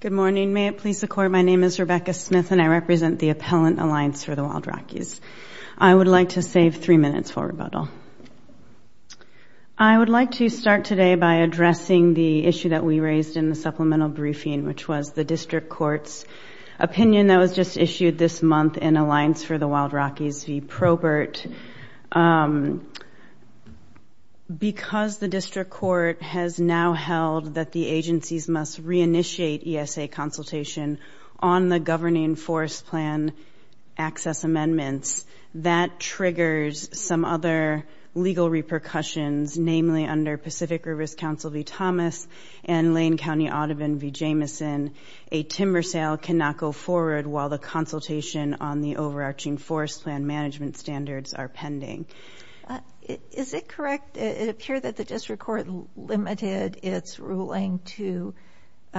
Good morning. May it please the Court, my name is Rebecca Smith and I represent the Appellant Alliance for the Wild Rockies. I would like to save three minutes for rebuttal. I would like to start today by addressing the issue that we raised in the supplemental briefing, which was the District Court's opinion that was just issued this month in Alliance for the Wild Rockies v. Probert. Because the District Court has now held that the agencies must reinitiate ESA consultation on the governing forest plan access amendments, that triggers some other legal repercussions, namely under Pacific Rivers Council v. Thomas and Lane County Audubon v. Jameson, a timber sale cannot go forward while the pending. Is it correct, it appeared that the District Court limited its ruling to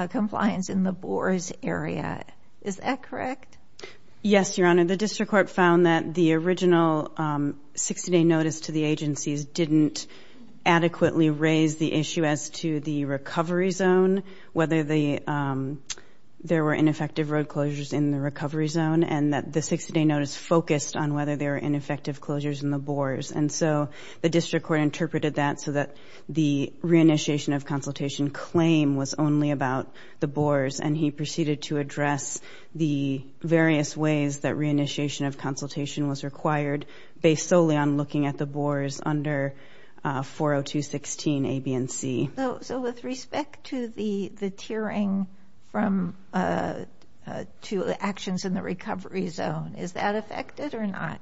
compliance in the Boers area, is that correct? Yes, Your Honor, the District Court found that the original 60-day notice to the agencies didn't adequately raise the issue as to the recovery zone, whether there were ineffective road closures in the recovery zone, and that the 60-day notice focused on whether there were ineffective closures in the Boers, and so the District Court interpreted that so that the reinitiation of consultation claim was only about the Boers, and he proceeded to address the various ways that reinitiation of consultation was required based solely on looking at the Boers under 40216 A, B, and C. So with respect to the the tiering from two actions in the recovery zone, is that affected or not?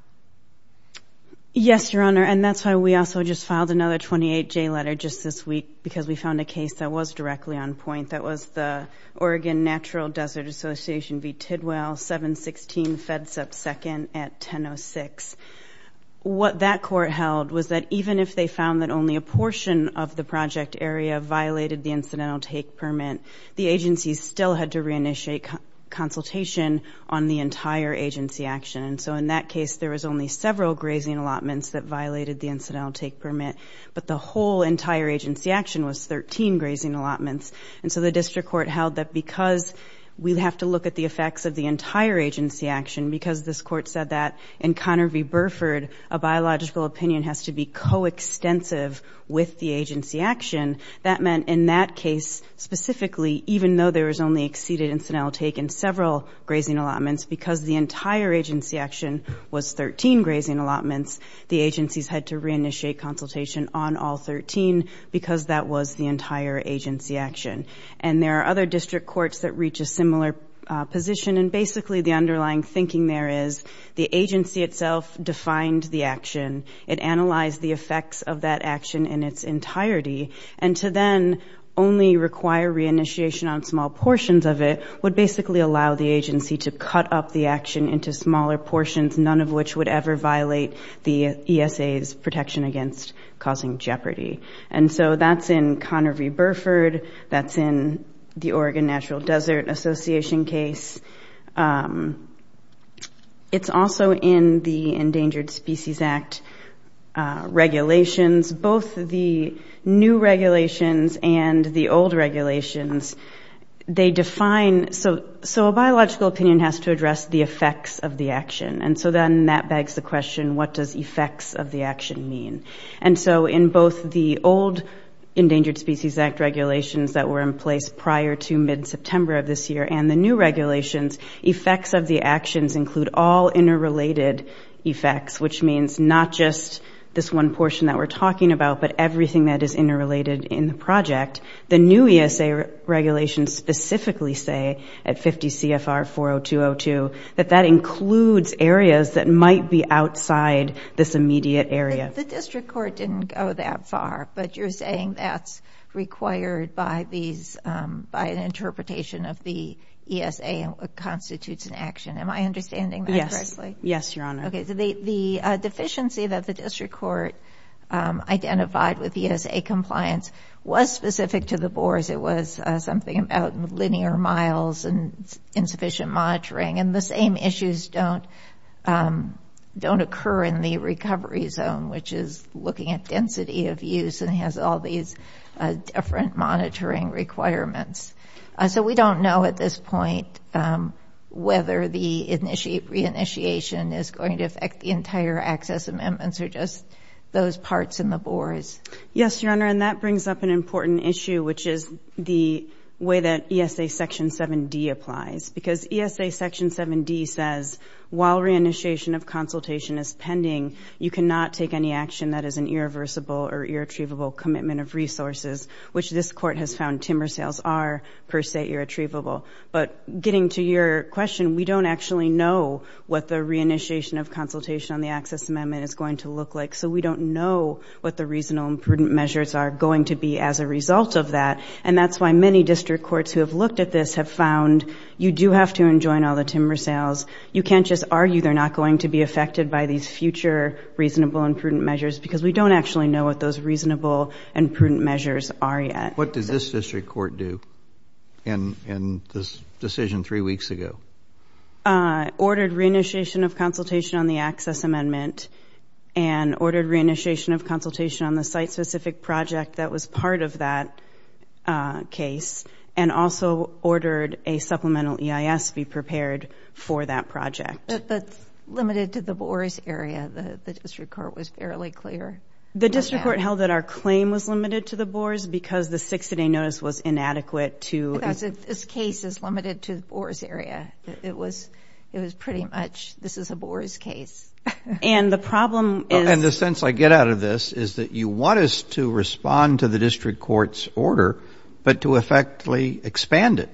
Yes, Your Honor, and that's why we also just filed another 28-J letter just this week, because we found a case that was directly on point, that was the Oregon Natural Desert Association v. Tidwell 716 FEDSEP II at 1006. What that court held was that even if they found that only a portion of the project area violated the on the entire agency action, and so in that case there was only several grazing allotments that violated the incidental take permit, but the whole entire agency action was 13 grazing allotments, and so the District Court held that because we have to look at the effects of the entire agency action, because this court said that in Conner v. Burford, a biological opinion has to be co-extensive with the agency action, that meant in that case, specifically, even though there were 13 grazing allotments, because the entire agency action was 13 grazing allotments, the agencies had to reinitiate consultation on all 13, because that was the entire agency action. And there are other district courts that reach a similar position, and basically the underlying thinking there is, the agency itself defined the action, it analyzed the effects of that action in its entirety, and to then only require reinitiation on small portions of it would basically allow the agency to cut up the action into smaller portions, none of which would ever violate the ESA's protection against causing jeopardy. And so that's in Conner v. Burford, that's in the Oregon Natural Desert Association case. It's also in the Endangered Species Act regulations, both the new regulations and the old regulations, they define, so a biological opinion has to address the effects of the action, and so then that begs the question, what does effects of the action mean? And so in both the old Endangered Species Act regulations that were in place prior to mid-September of this year, and the new regulations, effects of the actions include all interrelated effects, which means not just this one portion that we're talking about, but everything that is interrelated in the project. The new ESA regulations specifically say at 50 CFR 40202, that that includes areas that might be outside this immediate area. The district court didn't go that far, but you're saying that's required by these, by an interpretation of the ESA and what Okay, so the deficiency that the district court identified with ESA compliance was specific to the bores, it was something about linear miles and insufficient monitoring, and the same issues don't occur in the recovery zone, which is looking at density of use and has all these different monitoring requirements. So we don't know at this point whether the reinitiation is going to affect the entire access amendments or just those parts in the bores. Yes, Your Honor, and that brings up an important issue, which is the way that ESA section 7d applies, because ESA section 7d says while reinitiation of consultation is pending, you cannot take any action that is an irreversible or irretrievable commitment of resources, which this court has found timber sales are per se irretrievable. But getting to your question, we don't actually know what the reinitiation of consultation on the access amendment is going to look like, so we don't know what the reasonable and prudent measures are going to be as a result of that, and that's why many district courts who have looked at this have found you do have to enjoin all the timber sales. You can't just argue they're not going to be affected by these future reasonable and prudent measures, because we don't actually know what those reasonable and prudent measures are yet. What does this district court do in this decision three weeks ago? Ordered reinitiation of consultation on the access amendment, and ordered reinitiation of consultation on the site-specific project that was part of that case, and also ordered a supplemental EIS be prepared for that project. That's limited to the bores area. The district court was fairly clear. The district court held that our claim was limited to the bores because the 60-day is limited to the bores area. It was, it was pretty much this is a bores case. And the problem is... And the sense I get out of this is that you want us to respond to the district court's order, but to effectively expand it,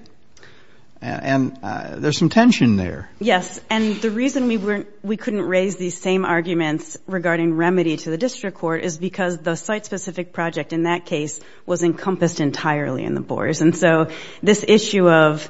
and there's some tension there. Yes, and the reason we weren't, we couldn't raise these same arguments regarding remedy to the district court is because the site-specific project in that case was encompassed entirely in the bores, and so this issue of,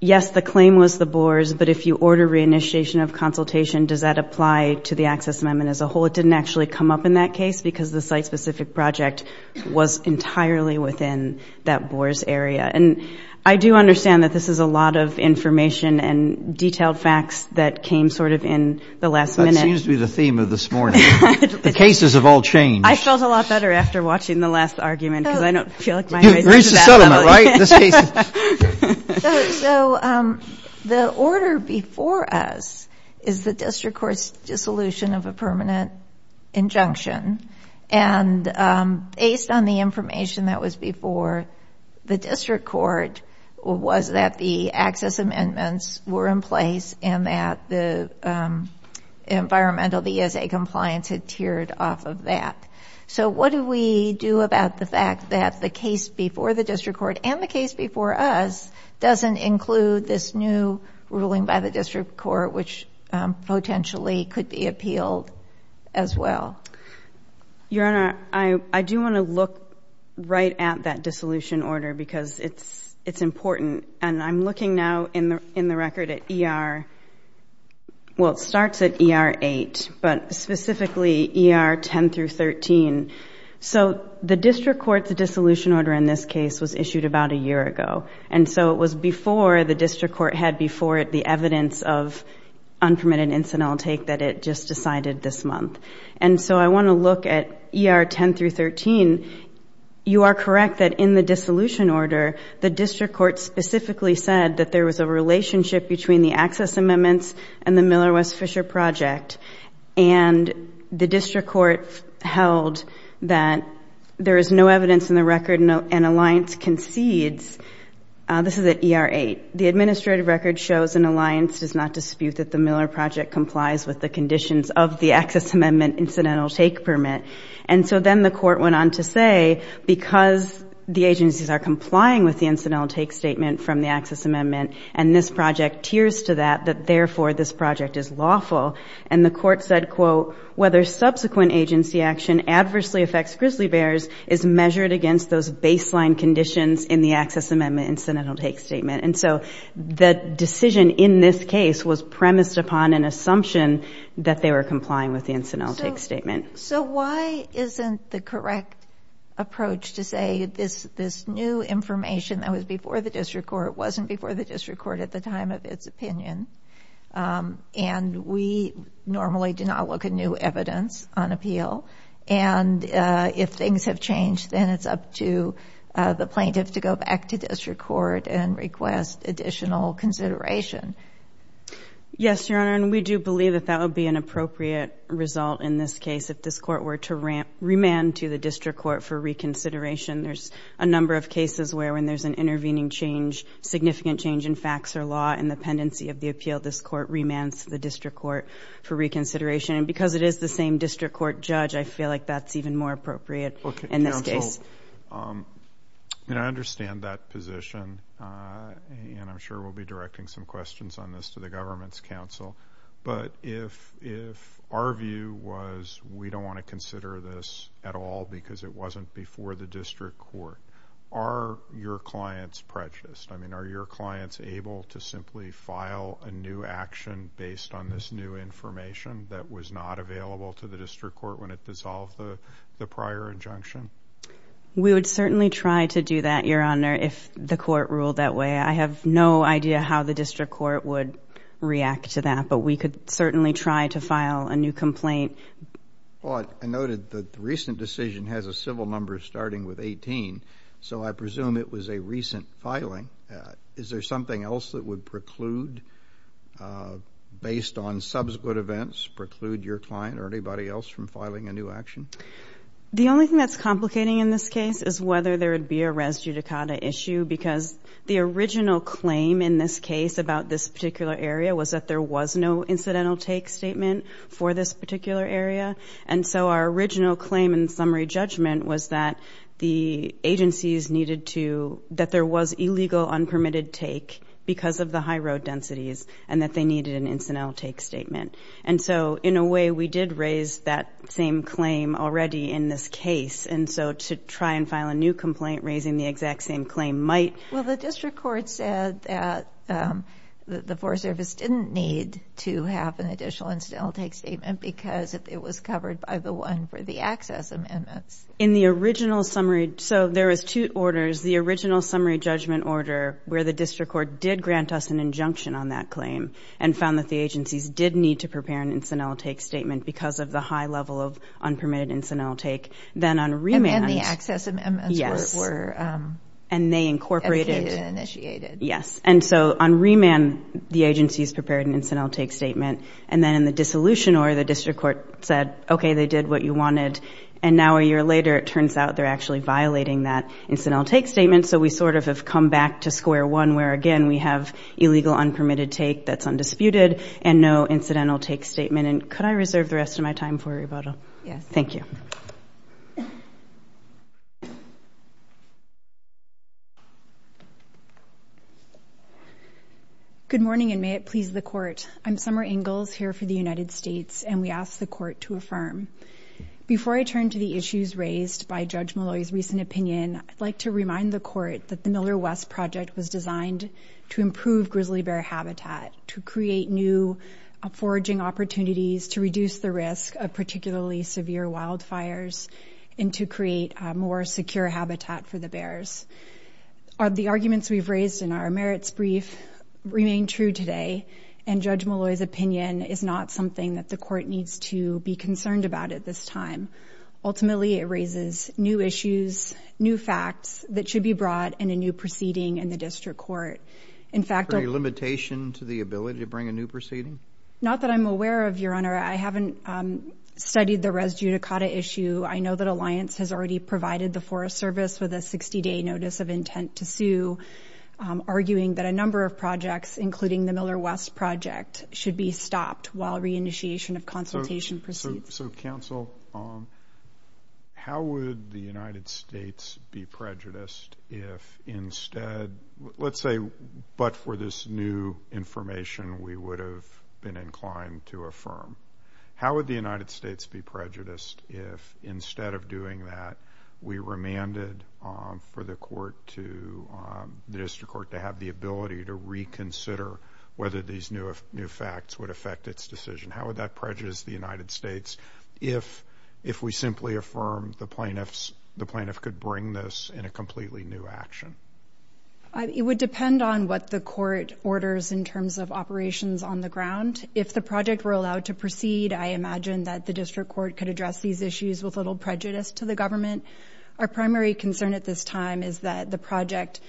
yes, the claim was the bores, but if you order reinitiation of consultation, does that apply to the access amendment as a whole? It didn't actually come up in that case because the site-specific project was entirely within that bores area. And I do understand that this is a lot of information and detailed facts that came sort of in the last minute. That seems to be the theme of this morning. The cases have all changed. I felt a lot better after watching the last argument, because I don't feel like... You've reached a settlement, right, in this case? So, the order before us is the district court's dissolution of a permanent injunction, and based on the information that was before, the district court was that the access amendments were in place, and that the environmental, the ESA compliance had teared off of that. So, what do we do about the fact that the case before the district court, and the case before us, doesn't include this new ruling by the district court, which potentially could be appealed as well? Your Honor, I do want to look right at that dissolution order, because it's important, and I'm looking now in the record at ER... Well, it starts at ER 8, but specifically ER 10 through 13. So, the district court's dissolution order in this case was issued about a year ago, and so it was before the district court had before it the evidence of unpermitted incidental intake that it just decided this month. And so, I want to look at ER 10 through 13. You are correct that in the dissolution order, the district court specifically said that there was a relationship between the access amendments and the Miller- and the district court held that there is no evidence in the record, and Alliance concedes... This is at ER 8. The administrative record shows, and Alliance does not dispute, that the Miller Project complies with the conditions of the access amendment incidental take permit. And so, then the court went on to say, because the agencies are complying with the incidental take statement from the access amendment, and this project tiers to that, that therefore this project is lawful. And the court said, quote, whether subsequent agency action adversely affects grizzly bears is measured against those baseline conditions in the access amendment incidental take statement. And so, the decision in this case was premised upon an assumption that they were complying with the incidental take statement. So, why isn't the correct approach to say this new information that was before the district court, wasn't before the district court at the time of its opinion? And we normally do not look at new evidence on appeal. And if things have changed, then it's up to the plaintiff to go back to district court and request additional consideration. Yes, Your Honor, and we do believe that that would be an appropriate result in this case, if this court were to remand to the district court for reconsideration. There's a number of cases where, when there's an intervening change, significant change in facts or law in the pendency of the appeal, this court remands to the district court for reconsideration. And because it is the same district court judge, I feel like that's even more appropriate in this case. Okay, Your Honor, so... And I understand that position, and I'm sure we'll be directing some questions on this to the government's counsel. But if our view was, we don't wanna consider this at all, because it wasn't before the district court. Are your clients prejudiced? I mean, are your clients able to simply file a new action based on this new information that was not available to the district court when it dissolved the prior injunction? We would certainly try to do that, Your Honor, if the court ruled that way. I have no idea how the district court would react to that, but we could certainly try to do that. The recent decision has a civil number starting with 18, so I presume it was a recent filing. Is there something else that would preclude, based on subsequent events, preclude your client or anybody else from filing a new action? The only thing that's complicating in this case is whether there would be a res judicata issue, because the original claim in this case about this particular area was that there was no incidental take statement for this particular area. And so, our original claim in summary judgment was that the agencies needed to... That there was illegal, unpermitted take because of the high road densities, and that they needed an incidental take statement. And so, in a way, we did raise that same claim already in this case, and so to try and file a new complaint raising the exact same claim might... Well, the district court said that the Forest Service didn't need to have an additional incidental take statement because it was covered by the one for the access amendments. In the original summary... So, there was two orders. The original summary judgment order, where the district court did grant us an injunction on that claim and found that the agencies did need to prepare an incidental take statement because of the high level of unpermitted incidental take. Then on remand... And then the access amendments were... Yes. And they incorporated... Educated and initiated. Yes. And so, on remand, the agencies prepared an incidental take statement. And then in the dissolution order, the district court said, okay, they did what you wanted. And now, a year later, it turns out they're actually violating that incidental take statement. So, we sort of have come back to square one, where again, we have illegal, unpermitted take that's undisputed and no incidental take statement. And could I reserve the rest of my time for a rebuttal? Yes. Thank you. Good morning, and may it please the court. I'm Summer Ingalls here for the United States, and we ask the court to affirm. Before I turn to the issues raised by Judge Malloy's recent opinion, I'd like to remind the court that the Miller West Project was designed to improve grizzly bear habitat, to create new foraging opportunities, to reduce the risk of particularly severe wildfires, and to create a more secure habitat for the bears. The arguments we've raised in our merits brief remain true today, and Judge Malloy's opinion is not something that the court needs to be concerned about at this time. Ultimately, it raises new issues, new facts that should be brought in a new proceeding in the district court. In fact... Is there a limitation to the ability to bring a new proceeding? Not that I'm aware of, Your Honor. I haven't studied the res judicata issue. I know that Alliance has already provided the Forest Service with a 60 day notice of intent to sue, arguing that a number of projects, including the Miller West Project, should be stopped while reinitiation of consultation proceeds. So counsel, how would the United States be prejudiced if instead... Let's say, but for this new information, we would have been inclined to affirm. How would the United States be prejudiced if instead of doing that, we remanded for the court to... The district court to have the ability to reconsider whether these new facts would affect its decision? How would that prejudice the United States if we simply affirm the plaintiff could bring this in a completely new action? It would depend on what the court orders in terms of operations on the ground. If the project were allowed to proceed, I imagine that the district court could address these issues with little prejudice to the government. Our primary concern at this time is that the project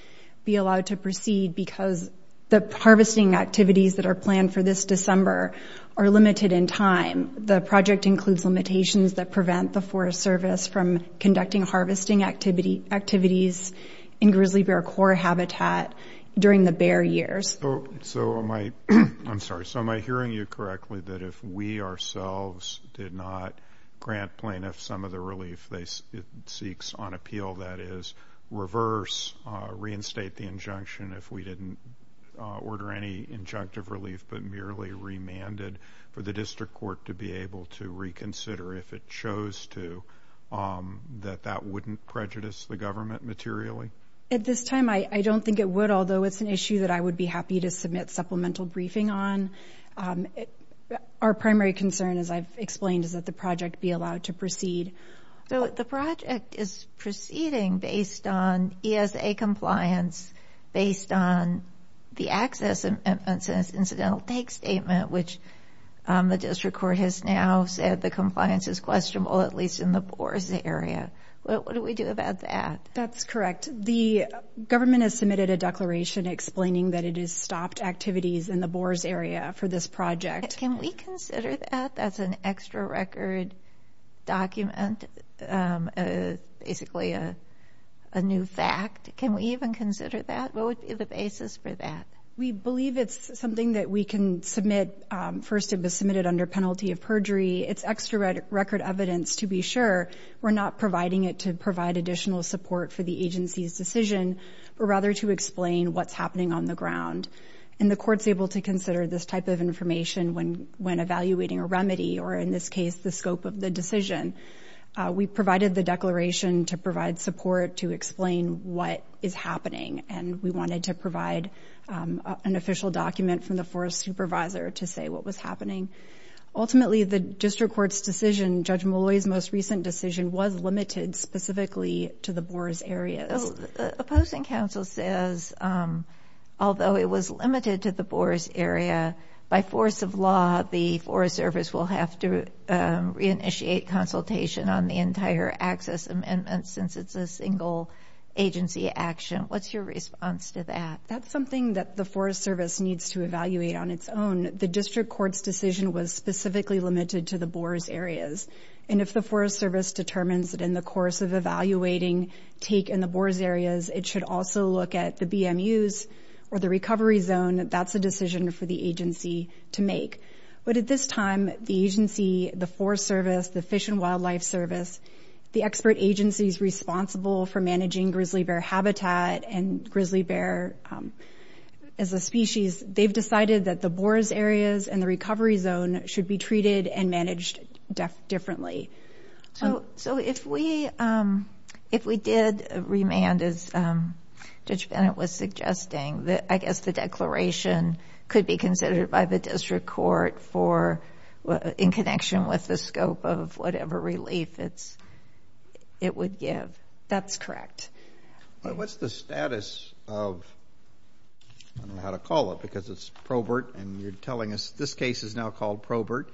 be allowed to proceed because the harvesting activities that are planned for this December are limited in time. The project includes limitations that prevent the Forest Service from conducting harvesting activities in grizzly bear core habitat during the bear years. So am I... I'm sorry. So am I hearing you correctly that if we ourselves did not grant plaintiff some of the relief it seeks on appeal, that is reverse, reinstate the injunction if we didn't order any injunctive relief, but merely remanded for the to, that that wouldn't prejudice the government materially? At this time, I don't think it would, although it's an issue that I would be happy to submit supplemental briefing on. Our primary concern, as I've explained, is that the project be allowed to proceed. So the project is proceeding based on ESA compliance, based on the access incidental take statement, which the district court has now said the compliance is questionable, at least in the Boers area. What do we do about that? That's correct. The government has submitted a declaration explaining that it has stopped activities in the Boers area for this project. Can we consider that as an extra record document, basically a new fact? Can we even consider that? What would be the basis for that? We believe it's something that we can submit. First, it was submitted under penalty of perjury. It's extra record evidence to be sure. We're not providing it to provide additional support for the agency's decision, but rather to explain what's happening on the ground. And the court's able to consider this type of information when evaluating a remedy, or in this case, the scope of the decision. We provided the declaration to provide support to explain what is happening, and we wanted to provide an official document from the forest supervisor to say what was happening. Ultimately, the district court's decision, Judge Molloy's most recent decision, was limited specifically to the Boers area. The opposing counsel says, although it was limited to the Boers area, by force of law, the Forest Service will have to reinitiate consultation on the entire access amendment, since it's a single agency action. What's your response to that? That's something that the Forest Service needs to evaluate on its own. The district court's decision was specifically limited to the Boers areas, and if the Forest Service determines that in the course of evaluating take in the Boers areas, it should also look at the BMUs or the recovery zone, that's a decision for the agency to make. But at this time, the agency, the Forest Service, the Fish and Wildlife Service, the expert agencies responsible for managing grizzly bear habitat and grizzly bear as a species, they've decided that the Boers areas and the recovery zone should be treated and managed differently. So if we did remand, as Judge Bennett was suggesting, I guess the declaration could be considered by the district court for, in connection with the scope of whatever relief it would give. That's correct. What's the status of... I don't know how to call it, because it's Probert, and you're telling us this case is now called Probert.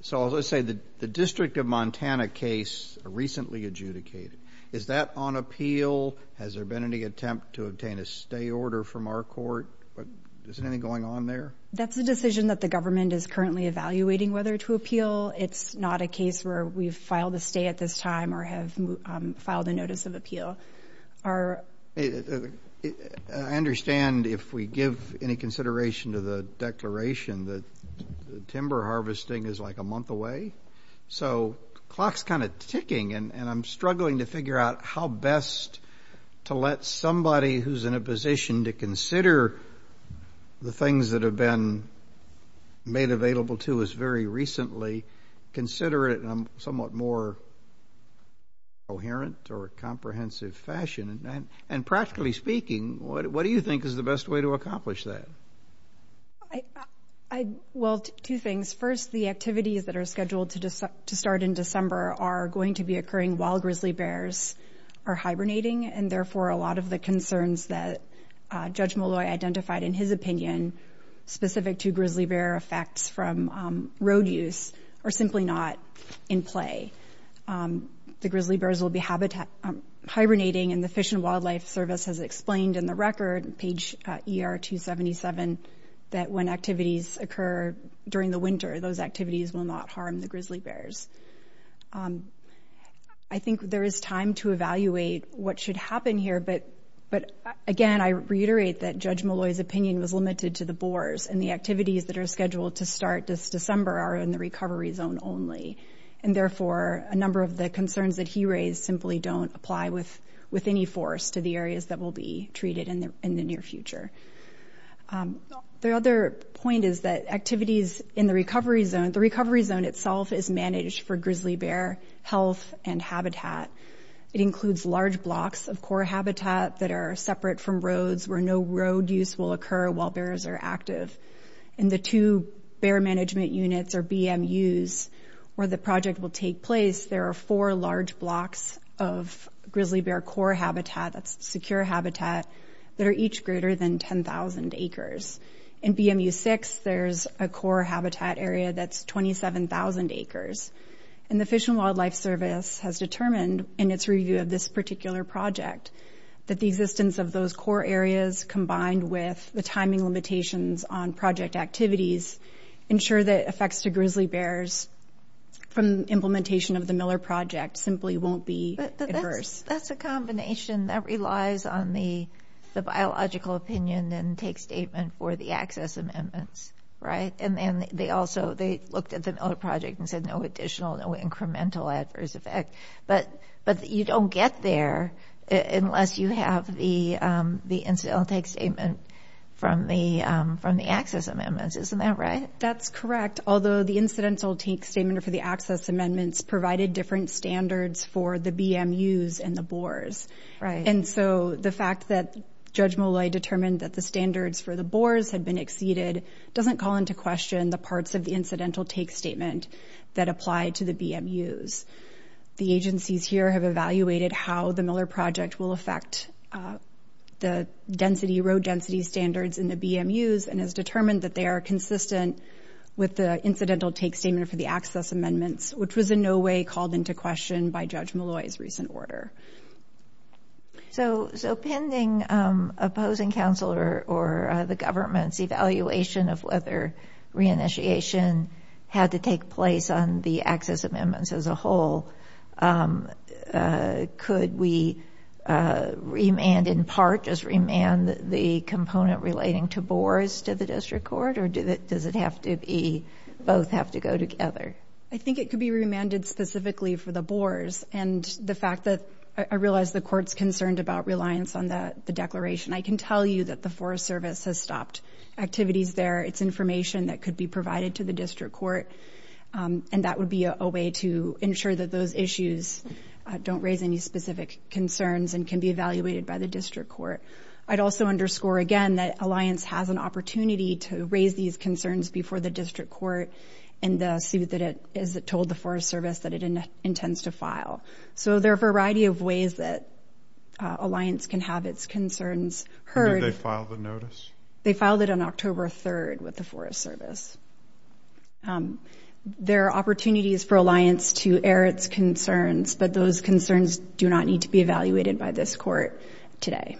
So as I say, the District of Montana case, recently adjudicated, is that on appeal? Has there been any attempt to obtain a stay order from our court? Is anything going on there? That's a decision that the government is currently evaluating whether to appeal. It's not a case where we've filed a stay at this time or have filed a notice of appeal. I understand if we give any consideration to the declaration that timber harvesting is a month away. So clock's ticking, and I'm struggling to figure out how best to let somebody who's in a position to consider the things that have been made available to us very recently, consider it somewhat more coherent or comprehensive fashion. And practically speaking, what do you think is the best way to accomplish that? Well, two things. First, the activities that are scheduled to start in December are going to be occurring while grizzly bears are hibernating, and therefore a lot of the concerns that Judge Molloy identified in his opinion, specific to grizzly bear effects from road use, are simply not in play. The grizzly bears will be hibernating, and the Fish and Wildlife Service has explained in the record, page ER 277, that when activities occur during the winter, those activities will not harm the grizzly bears. I think there is time to evaluate what should happen here, but again, I reiterate that Judge Molloy's opinion was limited to the boars, and the activities that are scheduled to start this December are in the recovery zone only. And therefore, a number of the concerns that he raised simply don't apply with any force to the areas that will be treated in the near future. The other point is that activities in the recovery zone, the recovery zone itself is managed for grizzly bear health and habitat. It includes large blocks of core habitat that are separate from roads, where no road use will occur while bears are active. In the two bear management units, or BMUs, where the project will take place, there are four large blocks of grizzly bear core habitat, that's secure habitat, that are each greater than 10,000 acres. In BMU 6, there's a core habitat area that's 27,000 acres. And the Fish and Wildlife Service has determined, in its review of this particular project, that the existence of those core areas, combined with the timing limitations on project activities, ensure that effects to grizzly bears from implementation of the Miller Project simply won't be adverse. But that's a combination that relies on the biological opinion and takes statement for the access amendments, right? And then they also, they looked at the Miller Project and said, no additional, no incremental adverse effect. But you don't get there unless you have the incidental take statement from the access amendments. Isn't that right? That's correct. Although the incidental take statement for the access amendments provided different standards for the BMUs and the boars. Right. And so the fact that Judge Molloy determined that the standards for the boars had been exceeded doesn't call into question the parts of the agencies here have evaluated how the Miller Project will affect the density, road density standards in the BMUs, and has determined that they are consistent with the incidental take statement for the access amendments, which was in no way called into question by Judge Molloy's recent order. So, pending opposing counsel or the government's evaluation of whether re-initiation had to take place on the access amendments as a whole, could we remand in part, just remand the component relating to boars to the district court? Or does it have to be, both have to go together? I think it could be remanded specifically for the boars. And the fact that I realize the court's concerned about reliance on the declaration. I can tell you that the Forest Service has stopped activities there. It's information that could be provided to the district court. And that would be a way to ensure that those issues don't raise any specific concerns and can be evaluated by the district court. I'd also underscore again that Alliance has an opportunity to raise these concerns before the district court in the suit that is told the Forest Service that it intends to file. So, there are a variety of ways that Alliance can have its concerns heard. Did they file the notice? They filed it on October 3rd with the Forest Service. There are opportunities for Alliance to air its concerns, but those concerns do not need to be evaluated by this court today.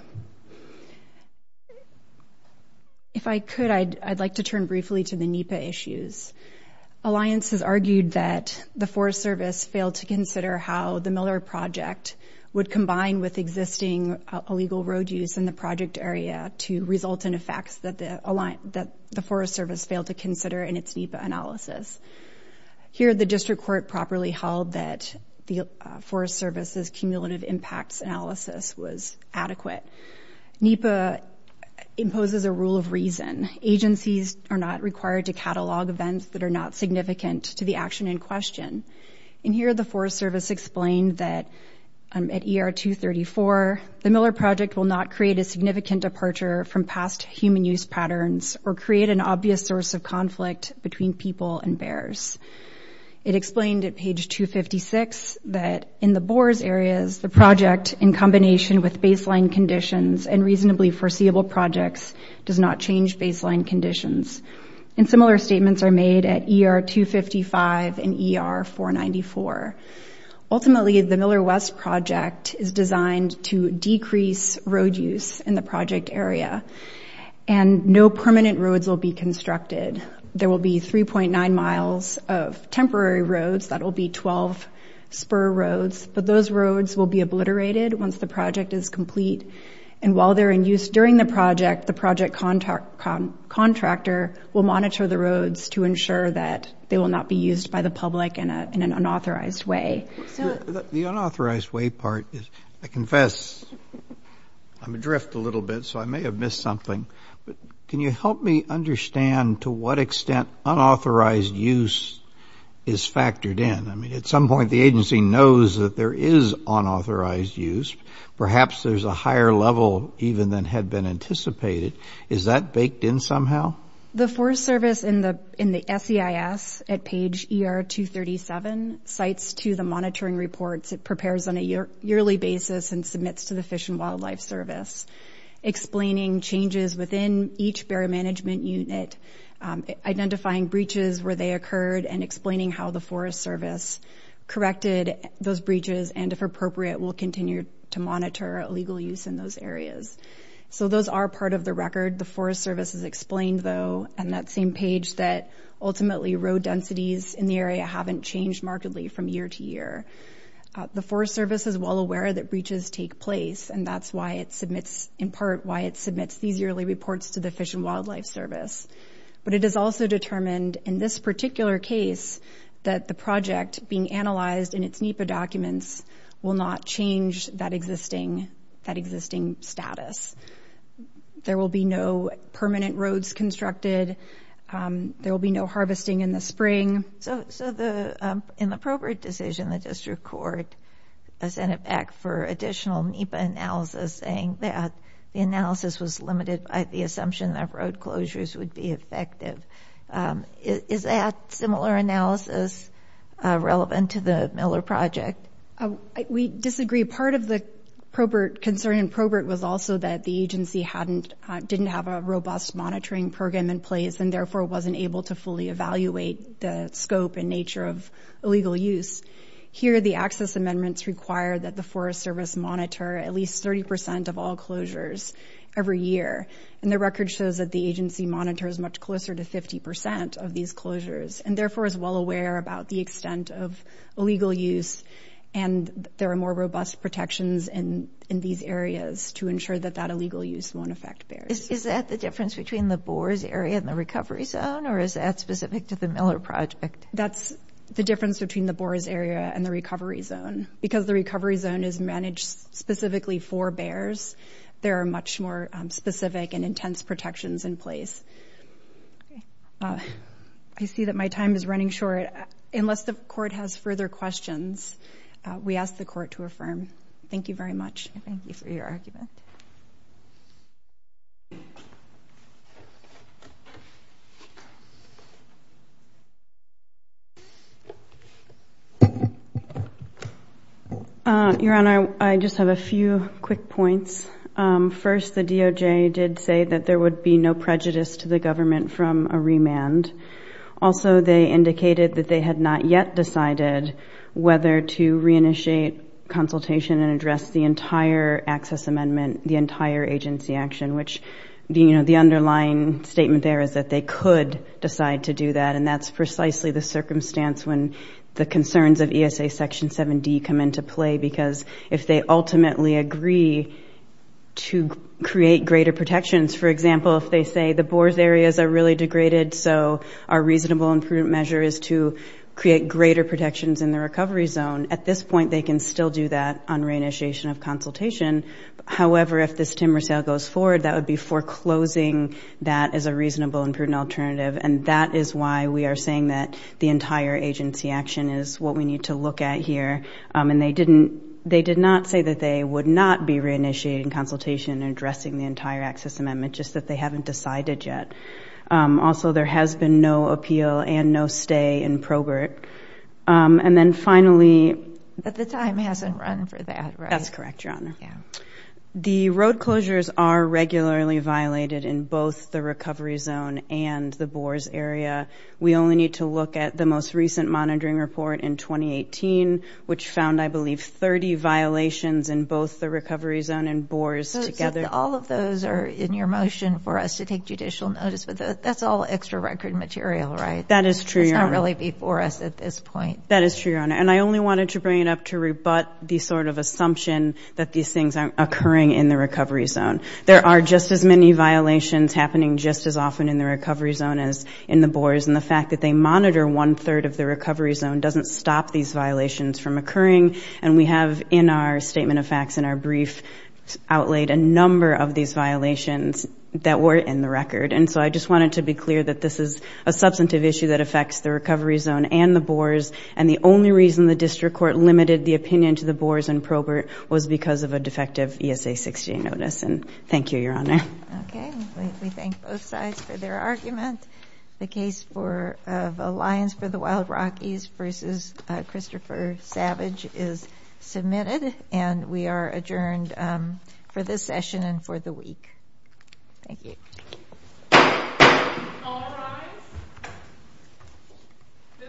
If I could, I'd like to turn briefly to the NEPA issues. Alliance has argued that the Forest Service failed to consider how the Miller Project would that the Forest Service failed to consider in its NEPA analysis. Here, the district court properly held that the Forest Service's cumulative impacts analysis was adequate. NEPA imposes a rule of reason. Agencies are not required to catalog events that are not significant to the action in question. And here, the Forest Service explained that at ER 234, the Miller Project will not create a significant departure from past human use patterns or create an obvious source of conflict between people and bears. It explained at page 256 that in the Boers areas, the project in combination with baseline conditions and reasonably foreseeable projects does not change baseline conditions. And similar statements are made at ER 255 and ER 494. Ultimately, the Miller West Project is designed to decrease road use in the project area. And no permanent roads will be constructed. There will be 3.9 miles of temporary roads. That will be 12 spur roads. But those roads will be obliterated once the project is complete. And while they're in use during the project, the project contractor will monitor the roads to ensure that they will not be used by the unauthorized way part. I confess, I'm adrift a little bit, so I may have missed something. But can you help me understand to what extent unauthorized use is factored in? I mean, at some point, the agency knows that there is unauthorized use. Perhaps there's a higher level even than had been anticipated. Is that baked in somehow? The Forest Service in the SEIS at page ER 237 cites to the monitoring reports it prepares on a yearly basis and submits to the Fish and Wildlife Service, explaining changes within each bearer management unit, identifying breaches where they occurred, and explaining how the Forest Service corrected those breaches and, if appropriate, will continue to monitor illegal use in those areas. So those are part of the record. The Forest Service has explained, though, on that same page, that ultimately road densities in the area haven't changed markedly from year to year. The Forest Service is well aware that breaches take place and that's why it submits, in part, why it submits these yearly reports to the Fish and Wildlife Service. But it is also determined in this particular case that the project being analyzed in its NEPA documents will not change that existing status. There will be no permanent roads constructed. There will be no harvesting in the spring. So in the probate decision, the district court sent it back for additional NEPA analysis saying that the analysis was limited by the assumption that road closures would be effective. Is that similar analysis relevant to the Miller Project? We disagree. Part of the concern in probate was also that the agency didn't have a robust monitoring program in place and therefore wasn't able to fully evaluate the scope and nature of illegal use. Here, the access amendments require that the Forest Service monitor at least 30% of all closures every year. And the record shows that the agency monitors much closer to 50% of these closures and therefore is well aware about the extent of illegal use and there are more robust protections in these areas to ensure that that illegal use won't affect barriers. Is that the difference between the Boers area and the recovery zone or is that specific to the Miller Project? That's the difference between the Boers area and the recovery zone. Because the recovery zone is managed specifically for bears, there are much more specific and intense protections in place. I see that my time is running short. Unless the court has further questions, we ask the court to affirm. Thank you very much. Thank you for your argument. Your Honor, I just have a few quick points. First, the DOJ did say that there would be no prejudice to the government from a remand. Also, they indicated that they had not yet decided whether to reinitiate consultation and address the entire access amendment, the entire agency action, which the underlying statement there is that they could decide to do that. And that's precisely the circumstance when the concerns of ESA Section 7D come into play, because if they ultimately agree to create greater protections, for example, if they say the Boers areas are really degraded, so our reasonable and prudent measure is to create greater protections in the recovery zone, at this point, they can still do that on reinitiation of consultation. However, if this timber sale goes forward, that would be foreclosing that as a reasonable and prudent alternative. And that is why we are saying that the entire agency action is what we need to look at here. And they did not say that they would not be reinitiating consultation and addressing the entire access amendment, just that they haven't decided yet. Also, there has been no appeal and no in Probert. And then finally... But the time hasn't run for that, right? That's correct, Your Honor. The road closures are regularly violated in both the recovery zone and the Boers area. We only need to look at the most recent monitoring report in 2018, which found, I believe, 30 violations in both the recovery zone and Boers together. So all of those are in your motion for us to take judicial notice, but that's all extra record material, right? That is not really before us at this point. That is true, Your Honor. And I only wanted to bring it up to rebut the sort of assumption that these things aren't occurring in the recovery zone. There are just as many violations happening just as often in the recovery zone as in the Boers. And the fact that they monitor one-third of the recovery zone doesn't stop these violations from occurring. And we have, in our statement of facts, in our brief, outlaid a number of these violations that so I just wanted to be clear that this is a substantive issue that affects the recovery zone and the Boers. And the only reason the district court limited the opinion to the Boers and Probert was because of a defective ESA-60 notice. And thank you, Your Honor. Okay. We thank both sides for their argument. The case of Alliance for the Wild Rockies versus Christopher Savage is submitted, and we are adjourned for this session and for the week. Thank you.